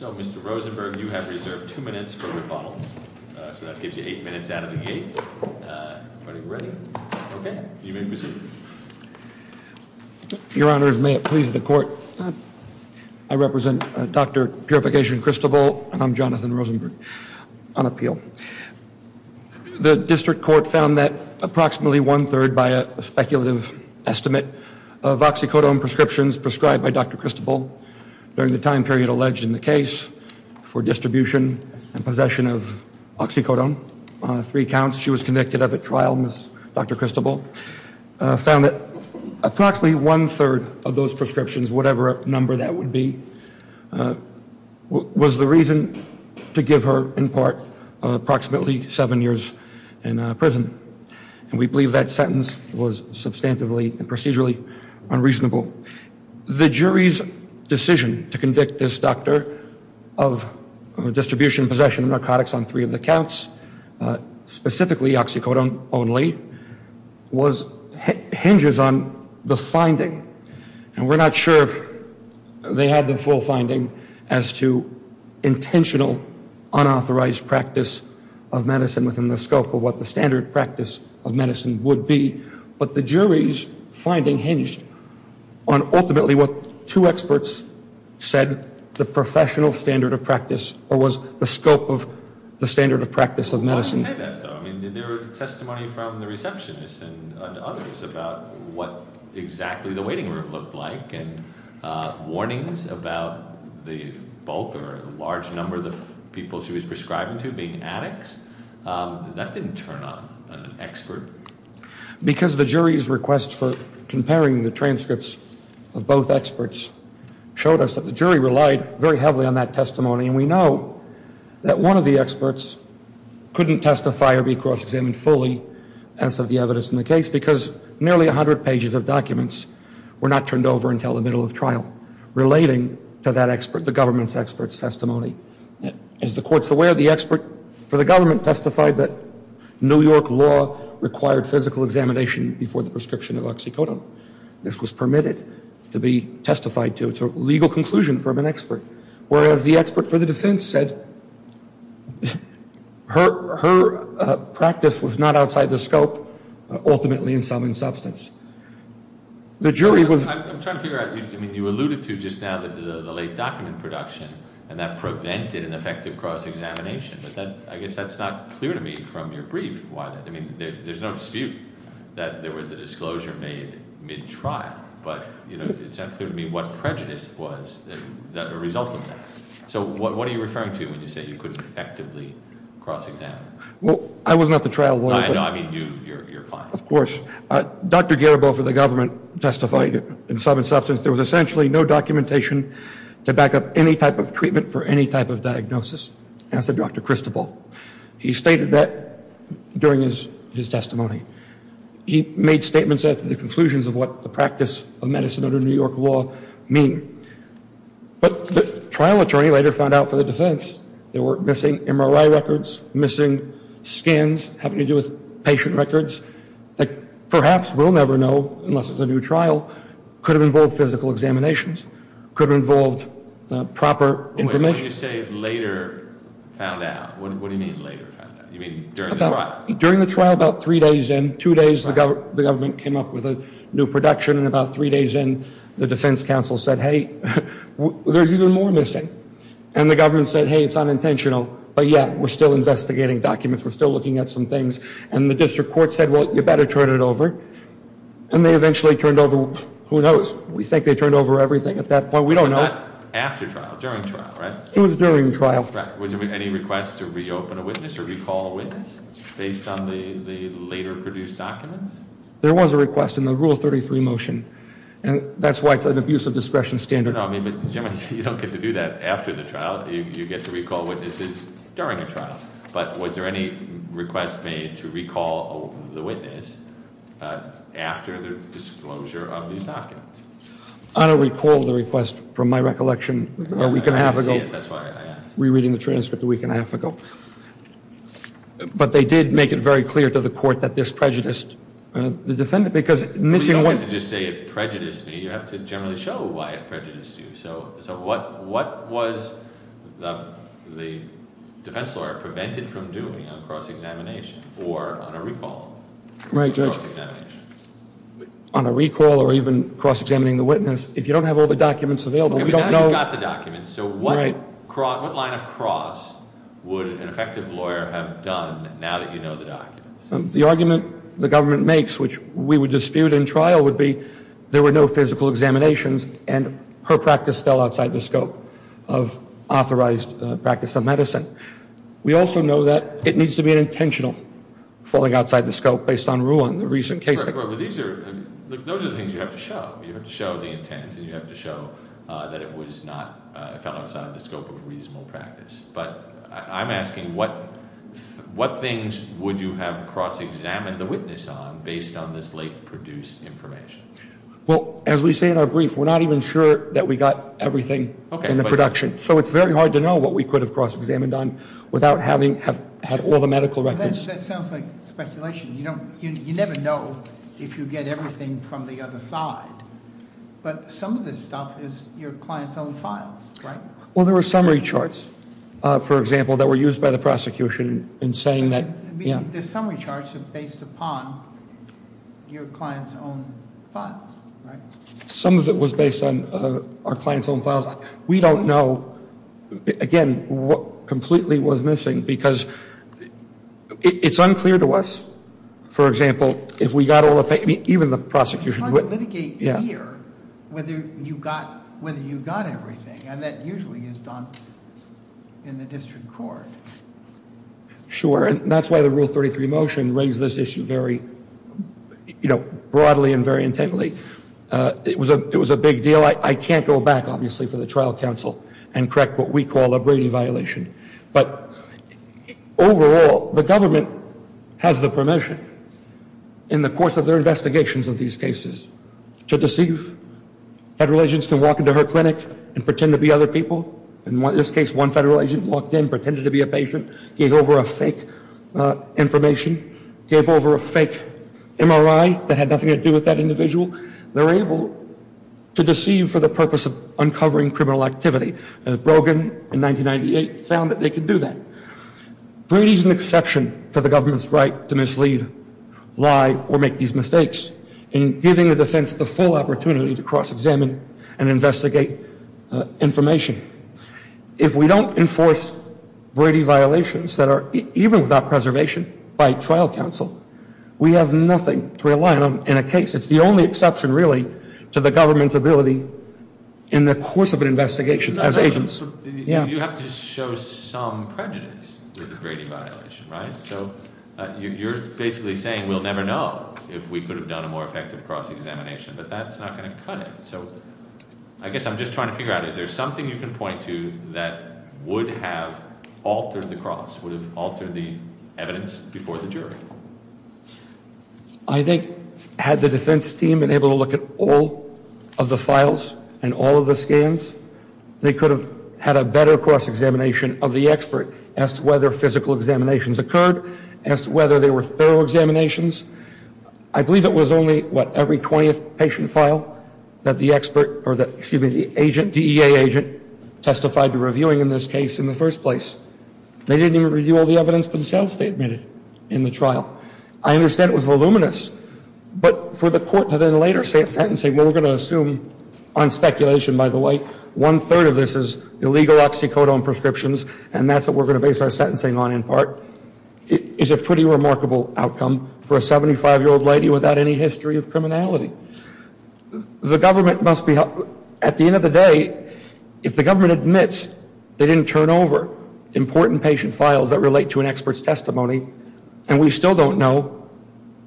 So, Mr. Rosenberg, you have reserved two minutes for rebuttal, so that gives you eight minutes out of the gate. Are you ready? Okay. You may proceed. Your Honors, may it please the Court, I represent Dr. Purification Cristobal and I'm Jonathan The District Court found that approximately one-third by a speculative estimate of oxycodone prescriptions prescribed by Dr. Cristobal during the time period alleged in the case for distribution and possession of oxycodone, three counts she was convicted of at trial, Ms. Dr. Cristobal, found that approximately one-third of those prescriptions, whatever number that would be, was the reason to give her, in part, approximately seven years in prison. And we believe that sentence was substantively and procedurally unreasonable. The jury's decision to convict this doctor of distribution and possession of narcotics on three of the counts, specifically oxycodone only, hinges on the finding. And we're not sure if they had the full finding as to intentional unauthorized practice of medicine within the scope of what the standard practice of medicine would be. But the jury's finding hinged on ultimately what two experts said, the professional standard of practice, or was the scope of the standard of practice of medicine. Why do you say that though? I mean, did there were testimony from the receptionist and others about what exactly the waiting room looked like and warnings about the bulk or large number of the people she was prescribing to being addicts? That didn't turn on an expert. Because the jury's request for comparing the transcripts of both experts showed us that the jury relied very heavily on that testimony, and we know that one of the experts couldn't testify or be cross-examined fully, as of the evidence in the case, because nearly a hundred pages of documents were not turned over until the middle of trial relating to that expert, the government's expert's testimony. As the Court's aware, the expert for the government testified that New York law required physical examination before the prescription of oxycodone. This was permitted to be testified to. It's a legal conclusion from an expert. Whereas the expert for the defense said her practice was not outside the scope, ultimately in sum and substance. The jury was... I'm trying to figure out, I mean, you alluded to just now the late document production, and that prevented an effective cross-examination, but I guess that's not clear to me from your brief. I mean, there's no dispute that there was a disclosure made mid-trial, but it's unclear to me what prejudice was the result of that. So what are you referring to when you say you couldn't effectively cross-examine? Well, I was not the trial lawyer, but... No, I mean, you're fine. Of course. Dr. Garibald for the government testified in sum and substance there was essentially no documentation to back up any type of treatment for any type of diagnosis, as did Dr. Christobal. He stated that during his testimony. He made statements after the conclusions of what the practice of medicine under New York law mean. But the trial attorney later found out for the defense there were missing MRI records, missing scans having to do with patient records, that perhaps we'll never know unless it's a new trial, could have involved physical examinations, could have involved proper information. Wait, when you say later found out, what do you mean later found out? You mean during the trial? During the trial, about three days in, two days the government came up with a new production and about three days in the defense counsel said, hey, there's even more missing. And the government said, hey, it's unintentional, but yeah, we're still investigating documents, we're still looking at some things. And the district court said, well, you better turn it over. And they eventually turned over, who knows? We think they turned over everything at that point. We don't know. But not after trial, during trial, right? It was during trial. Was there any request to reopen a witness or recall a witness based on the later produced documents? There was a request in the Rule 33 motion, and that's why it's an abuse of discretion standard. No, I mean, but you don't get to do that after the trial, you get to recall witnesses during a trial. But was there any request made to recall the witness after the disclosure of these documents? I don't recall the request from my recollection a week and a half ago. I didn't see it, that's why I asked. I was re-reading the transcript a week and a half ago. But they did make it very clear to the court that this prejudiced the defendant, because missing one- Well, you don't get to just say it prejudiced me, you have to generally show why it prejudiced you. So what was the defense lawyer prevented from doing on cross-examination or on a recall? Right, Judge. On a recall or even cross-examining the witness, if you don't have all the documents available, we don't know- So what kind of cross would an effective lawyer have done now that you know the documents? The argument the government makes, which we would dispute in trial, would be there were no physical examinations and her practice fell outside the scope of authorized practice of medicine. We also know that it needs to be intentional, falling outside the scope based on Ruan, the recent case- Right, but these are, those are the things you have to show. You have to show the intent and you have to show that it was not, it fell outside the scope of authorized practice. But I'm asking what things would you have cross-examined the witness on based on this late produced information? Well, as we say in our brief, we're not even sure that we got everything in the production. So it's very hard to know what we could have cross-examined on without having had all the medical records- That sounds like speculation. You don't, you never know if you get everything from the other side. But some of this stuff is your client's own files, right? Well, there were summary charts, for example, that were used by the prosecution in saying that- The summary charts are based upon your client's own files, right? Some of it was based on our client's own files. We don't know, again, what completely was missing because it's unclear to us, for example, if we got all the, even the prosecution- You could litigate here whether you got everything, and that usually is done in the district court. Sure, and that's why the Rule 33 motion raised this issue very broadly and very intently. It was a big deal. I can't go back, obviously, for the trial counsel and correct what we call a Brady violation. But overall, the government has the permission in the course of their investigations of these cases to deceive. Federal agents can walk into her clinic and pretend to be other people. In this case, one federal agent walked in, pretended to be a patient, gave over a fake information, gave over a fake MRI that had nothing to do with that individual. They're able to deceive for the purpose of uncovering criminal activity. Brogan in 1998 found that they could do that. Brady's an exception to the government's right to mislead, lie, or make these mistakes in giving the defense the full opportunity to cross-examine and investigate information. If we don't enforce Brady violations that are even without preservation by trial counsel, we have nothing to rely on in a case. It's the only exception, really, to the government's ability in the course of an investigation. You have to show some prejudice with the Brady violation, right? So you're basically saying we'll never know if we could have done a more effective cross-examination, but that's not going to cut it. So I guess I'm just trying to figure out, is there something you can point to that would have altered the cross, would have altered the evidence before the jury? I think had the defense team been able to look at all of the files and all of the scans, they could have had a better cross-examination of the expert as to whether physical examinations occurred, as to whether they were thorough examinations. I believe it was only, what, every 20th patient file that the expert, or that, excuse me, the agent, DEA agent testified to reviewing in this case in the first place. They didn't even review all the evidence themselves they admitted in the trial. I understand it was voluminous, but for the court to then later say it's sentencing, what we're going to assume on speculation, by the way, one-third of this is illegal oxycodone prescriptions, and that's what we're going to base our sentencing on in part, is a pretty remarkable outcome for a 75-year-old lady without any history of criminality. The government must be, at the end of the day, if the government admits they didn't turn over, important patient files that relate to an expert's testimony, and we still don't know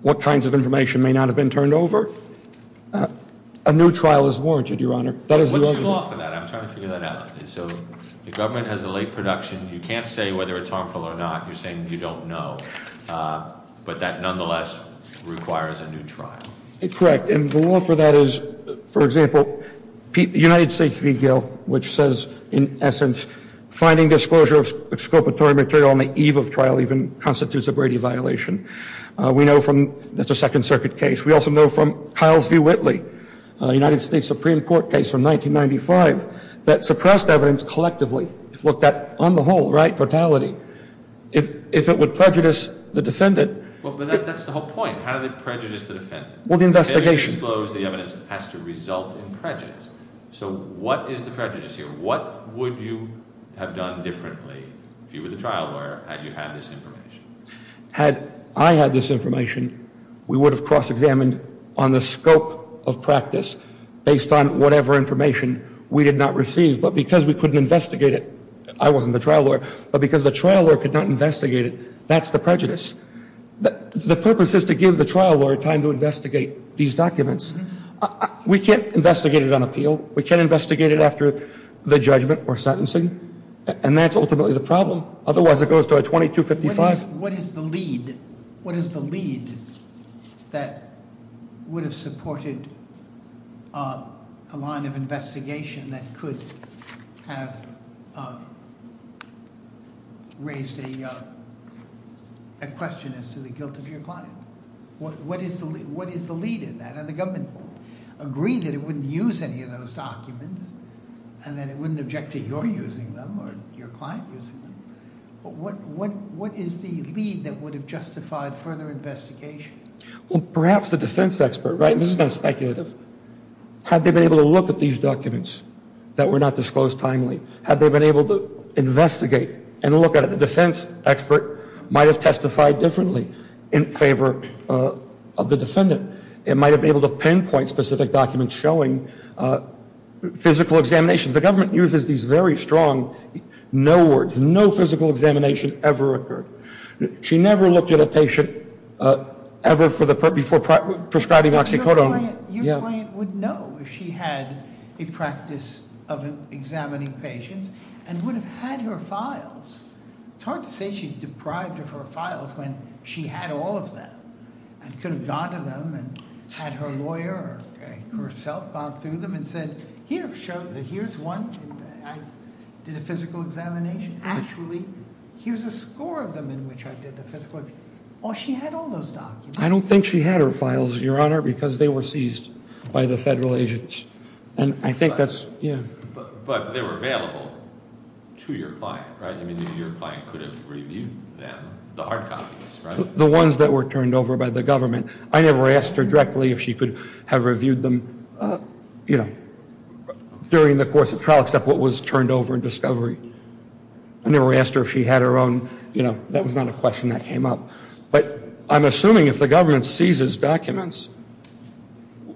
what kinds of information may not have been turned over, a new trial is warranted, Your Honor. What's the law for that? I'm trying to figure that out. So the government has a late production. You can't say whether it's harmful or not. You're saying you don't know, but that nonetheless requires a new trial. Correct, and the law for that is, for example, United States VGIL, which says, in essence, finding disclosure of exculpatory material on the eve of trial even constitutes a Brady violation. We know from, that's a Second Circuit case. We also know from Kyle's v. Whitley, a United States Supreme Court case from 1995, that suppressed evidence collectively, if looked at on the whole, right, brutality. If it would prejudice the defendant. Well, but that's the whole point. How did it prejudice the defendant? Well, the investigation. The evidence disclosed, the evidence has to result in prejudice. So what is the prejudice here? What would you have done differently, if you were the trial lawyer, had you had this information? Had I had this information, we would have cross-examined on the scope of practice, based on whatever information we did not receive. But because we couldn't investigate it, I wasn't the trial lawyer, but because the trial lawyer could not investigate it, that's the prejudice. The purpose is to give the trial lawyer time to investigate these documents. We can't investigate it on appeal. We can't investigate it after the judgment or sentencing. And that's ultimately the problem. Otherwise it goes to a 2255. What is the lead? What is the lead that would have supported a line of investigation that could have raised a question as to the guilt of your client? What is the lead in that? Now, the government agreed that it wouldn't use any of those documents, and then it wouldn't object to your using them or your client using them. But what is the lead that would have justified further investigation? Well, perhaps the defense expert, right? This is not speculative. Had they been able to look at these documents that were not disclosed timely, had they been able to investigate and look at it, the defense expert might have testified differently in favor of the defendant. It might have been able to pinpoint specific documents showing physical examinations. The government uses these very strong no words. No physical examination ever occurred. She never looked at a patient ever before prescribing oxycodone. Your client would know if she had a practice of examining patients and would have had her files. It's hard to say she's deprived of her files when she had all of them and could have gone to them and had her lawyer or herself gone through them and said, here's one, I did a physical examination. Actually, here's a score of them in which I did the physical. Or she had all those documents. I don't think she had her files, Your Honor, because they were seized by the federal agents. And I think that's, yeah. But they were available to your client, right? I mean, your client could have reviewed them, the hard copies, right? The ones that were turned over by the government. I never asked her directly if she could have reviewed them, you know, during the course of trial except what was turned over in discovery. I never asked her if she had her own, you know, that was not a question that came up. But I'm assuming if the government seizes documents,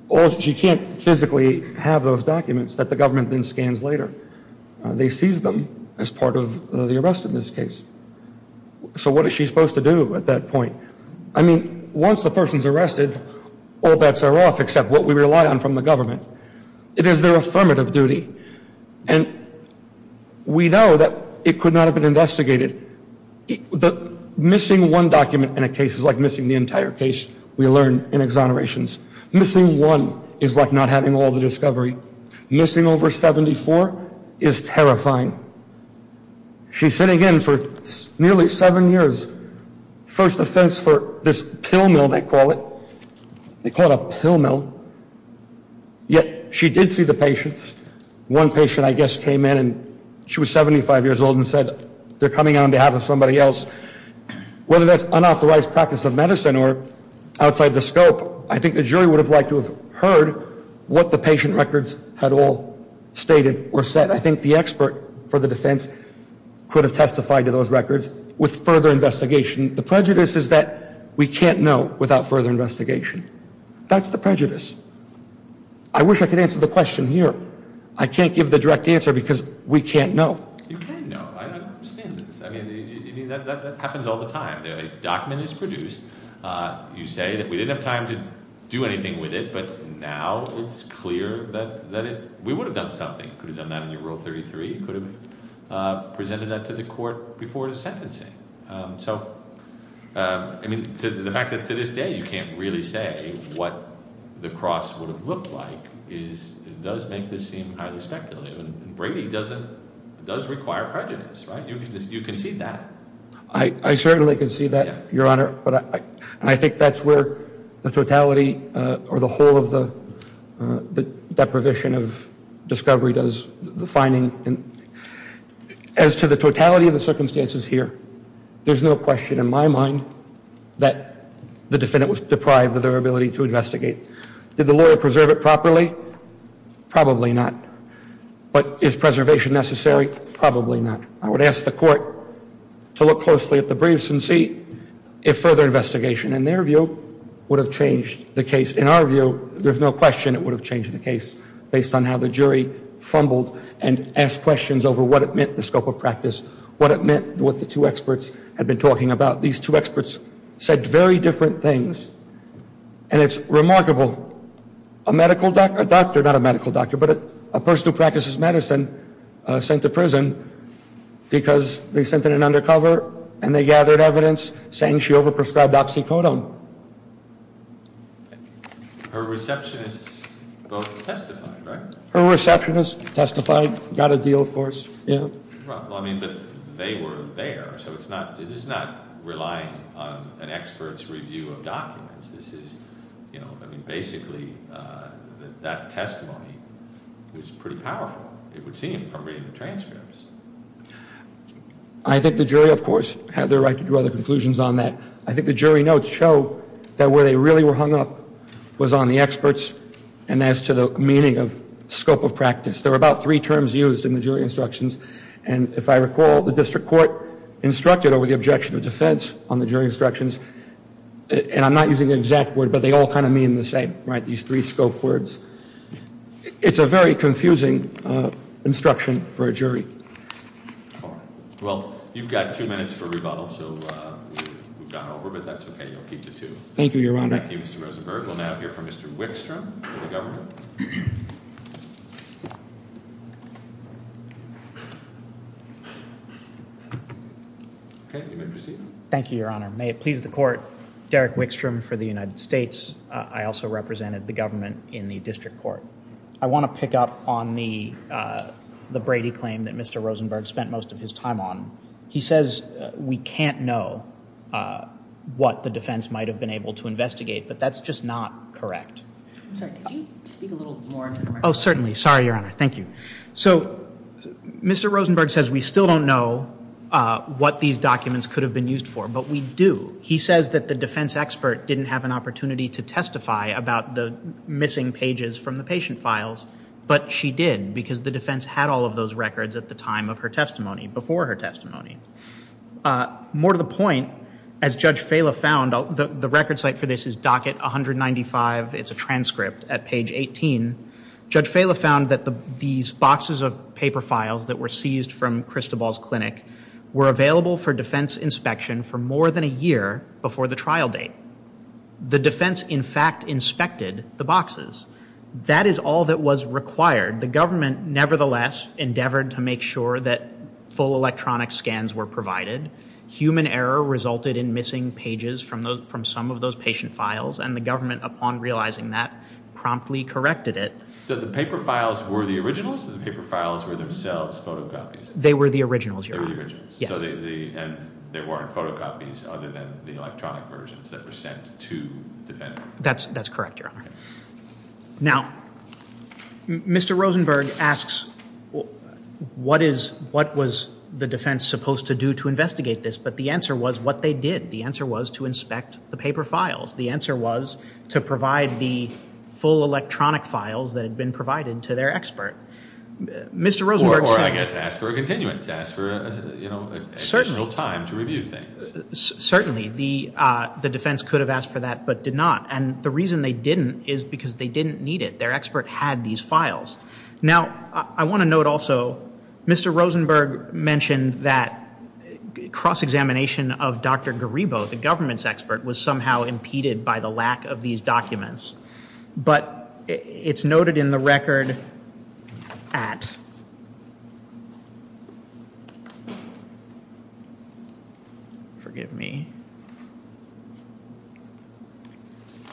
or if she can't physically have those documents that the government then scans later, they seize them as part of the arrest in this case. So what is she supposed to do at that point? I mean, once the person's arrested, all bets are off except what we rely on from the government. It is their affirmative duty. And we know that it could not have been investigated. Missing one document in a case is like missing the entire case, we learn in exonerations. Missing one is like not having all the discovery. Missing over 74 is terrifying. She's sitting in for nearly seven years, first offense for this pill mill, they call it. They call it a pill mill. Yet she did see the patients. One patient, I guess, came in and she was 75 years old and said, they're coming on behalf of somebody else. Whether that's unauthorized practice of medicine or outside the scope, I think the jury would have liked to have heard what the patient records had all stated or said. I think the expert for the defense could have testified to those records with further investigation. The prejudice is that we can't know without further investigation. That's the prejudice. I wish I could answer the question here. I can't give the direct answer because we can't know. You can know. I understand this. I mean, that happens all the time. A document is produced. You say that we didn't have time to do anything with it, but now it's clear that we would have done something. You could have done that in your Rule 33. You could have presented that to the court before the sentencing. So, I mean, the fact that to this day you can't really say what the cross would have looked like does make this seem highly speculative. And Brady does require prejudice, right? You concede that. I certainly concede that, Your Honor. I think that's where the totality or the whole of the deprivation of discovery does the finding. As to the totality of the circumstances here, there's no question in my mind that the defendant was deprived of their ability to investigate. Did the lawyer preserve it properly? Probably not. But is preservation necessary? Probably not. I would ask the court to look closely at the briefs and see if further investigation, in their view, would have changed the case. In our view, there's no question it would have changed the case based on how the jury fumbled and asked questions over what it meant, the scope of practice, what it meant, what the two experts had been talking about. These two experts said very different things, and it's remarkable. A doctor, not a medical doctor, but a person who practices medicine, sent to prison because they sent in an undercover and they gathered evidence saying she overprescribed oxycodone. Her receptionists both testified, right? Her receptionists testified, got a deal, of course. But they were there, so this is not relying on an expert's review of documents. This is, you know, I mean, basically that testimony was pretty powerful, it would seem, from reading the transcripts. I think the jury, of course, had the right to draw their conclusions on that. I think the jury notes show that where they really were hung up was on the experts and as to the meaning of scope of practice. There were about three terms used in the jury instructions, and if I recall, the district court instructed over the objection of defense on the jury instructions, and I'm not using the exact word, but they all kind of mean the same, right, these three scope words. It's a very confusing instruction for a jury. Well, you've got two minutes for rebuttal, so we've gone over, but that's okay, you'll keep the two. Thank you, Your Honor. Thank you, Mr. Rosenberg. We'll now hear from Mr. Wickstrom for the government. Okay, you may proceed. Thank you, Your Honor. May it please the Court, Derek Wickstrom for the United States. I also represented the government in the district court. I want to pick up on the Brady claim that Mr. Rosenberg spent most of his time on. He says we can't know what the defense might have been able to investigate, but that's just not correct. I'm sorry, could you speak a little more informally? Oh, certainly. Sorry, Your Honor. Thank you. So Mr. Rosenberg says we still don't know what these documents could have been used for, but we do. He says that the defense expert didn't have an opportunity to testify about the missing pages from the patient files, but she did because the defense had all of those records at the time of her testimony, before her testimony. More to the point, as Judge Fela found, the record site for this is docket 195. It's a transcript at page 18. Judge Fela found that these boxes of paper files that were seized from Christobal's clinic were available for defense inspection for more than a year before the trial date. The defense, in fact, inspected the boxes. That is all that was required. The government, nevertheless, endeavored to make sure that full electronic scans were provided. Human error resulted in missing pages from some of those patient files, and the government, upon realizing that, promptly corrected it. So the paper files were the originals, or the paper files were themselves photocopies? They were the originals, Your Honor. They were the originals. Yes. And there weren't photocopies other than the electronic versions that were sent to defend them? That's correct, Your Honor. Now, Mr. Rosenberg asks what was the defense supposed to do to investigate this, but the answer was what they did. The answer was to inspect the paper files. The answer was to provide the full electronic files that had been provided to their expert. Or, I guess, ask for a continuance, ask for a general time to review things. Certainly. The defense could have asked for that but did not, and the reason they didn't is because they didn't need it. Their expert had these files. Now, I want to note also, Mr. Rosenberg mentioned that cross-examination of Dr. Garibo, the government's expert, was somehow impeded by the lack of these documents. But it's noted in the record at, forgive me,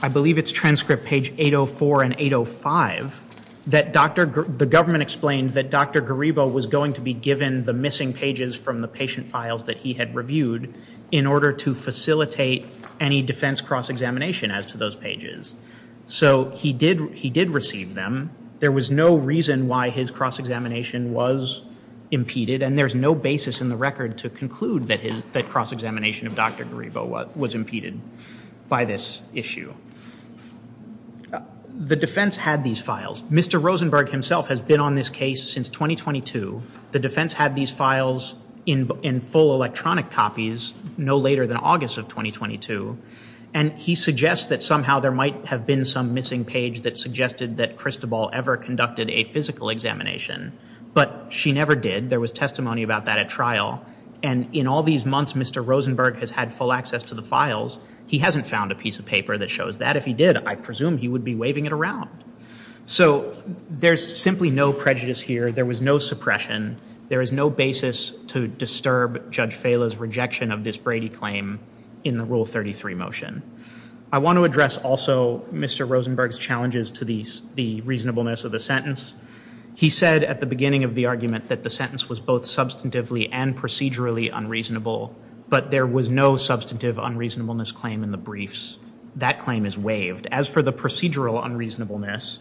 I believe it's transcript page 804 and 805, that the government explained that Dr. Garibo was going to be given the missing pages from the patient files that he had reviewed in order to facilitate any defense cross-examination as to those pages. So he did receive them. There was no reason why his cross-examination was impeded, and there's no basis in the record to conclude that cross-examination of Dr. Garibo was impeded by this issue. The defense had these files. Mr. Rosenberg himself has been on this case since 2022. The defense had these files in full electronic copies no later than August of 2022, and he suggests that somehow there might have been some missing page that suggested that Christobal ever conducted a physical examination, but she never did. There was testimony about that at trial, and in all these months, Mr. Rosenberg has had full access to the files. He hasn't found a piece of paper that shows that. If he did, I presume he would be waving it around. So there's simply no prejudice here. There was no suppression. There is no basis to disturb Judge Fala's rejection of this Brady claim in the Rule 33 motion. I want to address also Mr. Rosenberg's challenges to the reasonableness of the sentence. He said at the beginning of the argument that the sentence was both substantively and procedurally unreasonable, but there was no substantive unreasonableness claim in the briefs. That claim is waived. As for the procedural unreasonableness,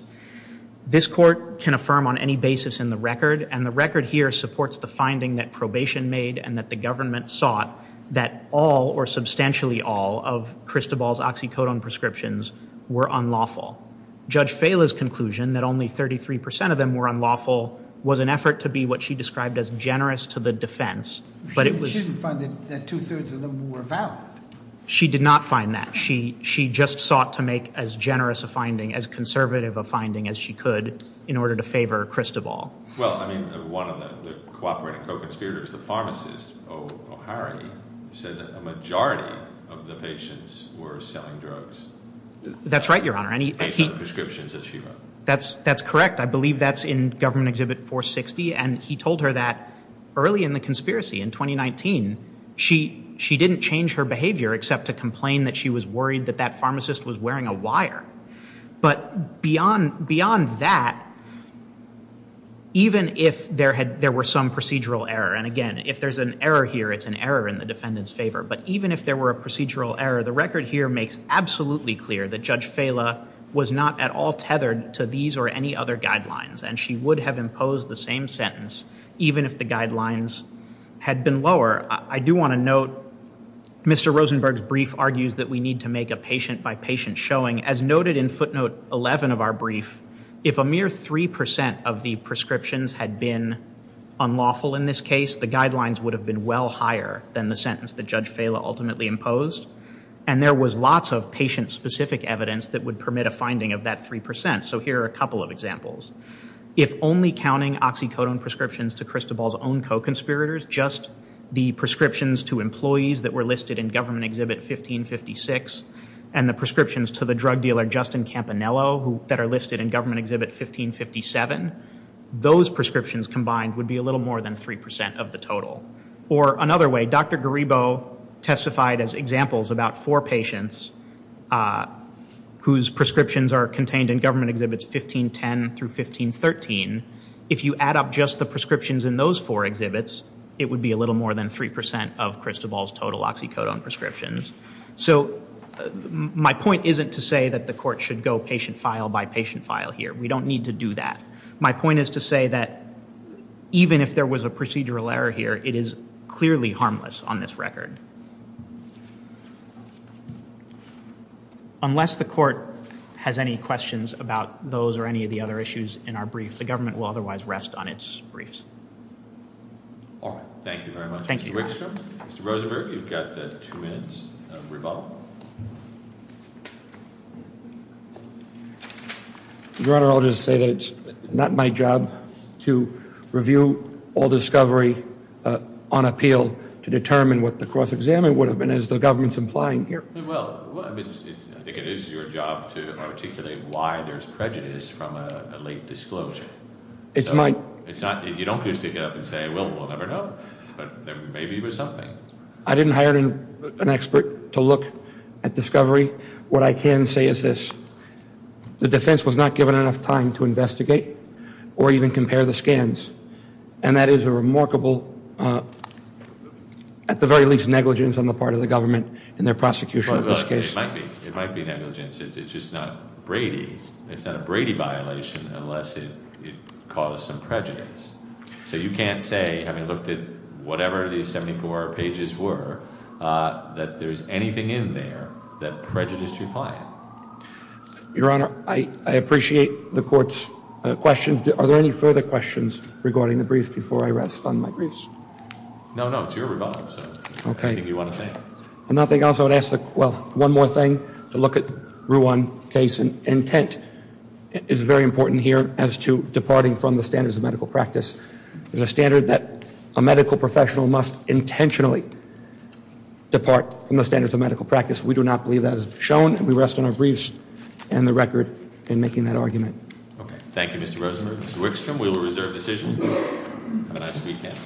this court can affirm on any basis in the record, and the record here supports the finding that probation made and that the government sought that all or substantially all of Christobal's oxycodone prescriptions were unlawful. Judge Fala's conclusion that only 33 percent of them were unlawful was an effort to be what she described as generous to the defense, but it was- She didn't find that two-thirds of them were valid. She did not find that. She just sought to make as generous a finding, as conservative a finding as she could, in order to favor Christobal. Well, I mean, one of the cooperating co-conspirators, the pharmacist, O'Hara, said that a majority of the patients were selling drugs. That's right, Your Honor. Based on the prescriptions that she wrote. That's correct. I believe that's in Government Exhibit 460, and he told her that early in the conspiracy, in 2019, she didn't change her behavior except to complain that she was worried that that pharmacist was wearing a wire. But beyond that, even if there were some procedural error, and again, if there's an error here, it's an error in the defendant's favor, but even if there were a procedural error, the record here makes absolutely clear that Judge Fala was not at all tethered to these or any other guidelines, and she would have imposed the same sentence even if the guidelines had been lower. I do want to note Mr. Rosenberg's brief argues that we need to make a patient-by-patient showing. As noted in footnote 11 of our brief, if a mere 3% of the prescriptions had been unlawful in this case, the guidelines would have been well higher than the sentence that Judge Fala ultimately imposed, and there was lots of patient-specific evidence that would permit a finding of that 3%. So here are a couple of examples. If only counting oxycodone prescriptions to Christobal's own co-conspirators, just the prescriptions to employees that were listed in Government Exhibit 1556 and the prescriptions to the drug dealer Justin Campanello that are listed in Government Exhibit 1557, those prescriptions combined would be a little more than 3% of the total. Or another way, Dr. Garibo testified as examples about four patients whose prescriptions are contained in Government Exhibits 1510 through 1513. If you add up just the prescriptions in those four exhibits, it would be a little more than 3% of Christobal's total oxycodone prescriptions. So my point isn't to say that the court should go patient file by patient file here. We don't need to do that. My point is to say that even if there was a procedural error here, it is clearly harmless on this record. Unless the court has any questions about those or any of the other issues in our brief, the government will otherwise rest on its briefs. All right. Thank you very much. Thank you. Mr. Wigstrom, Mr. Rosenberg, you've got two minutes of rebuttal. Go ahead. Your Honor, I'll just say that it's not my job to review all discovery on appeal to determine what the cross-examination would have been, as the government's implying here. Well, I think it is your job to articulate why there's prejudice from a late disclosure. It's my – You don't get to stick it up and say, well, we'll never know. But there may be something. I didn't hire an expert to look at discovery. What I can say is this. The defense was not given enough time to investigate or even compare the scans. And that is a remarkable, at the very least, negligence on the part of the government in their prosecution of this case. Well, it might be negligence. It's just not Brady. It's not a Brady violation unless it caused some prejudice. So you can't say, having looked at whatever these 74 pages were, that there's anything in there that prejudiced your client. Your Honor, I appreciate the court's questions. Are there any further questions regarding the brief before I rest on my briefs? No, no. It's your rebuttal, so I think you want to say it. Okay. If nothing else, I would ask, well, one more thing, to look at Ruan's case. His intent is very important here as to departing from the standards of medical practice. It's a standard that a medical professional must intentionally depart from the standards of medical practice. We do not believe that is shown, and we rest on our briefs and the record in making that argument. Okay. Thank you, Mr. Rosenberg. Mr. Wickstrom, we will reserve decision. Have a nice weekend.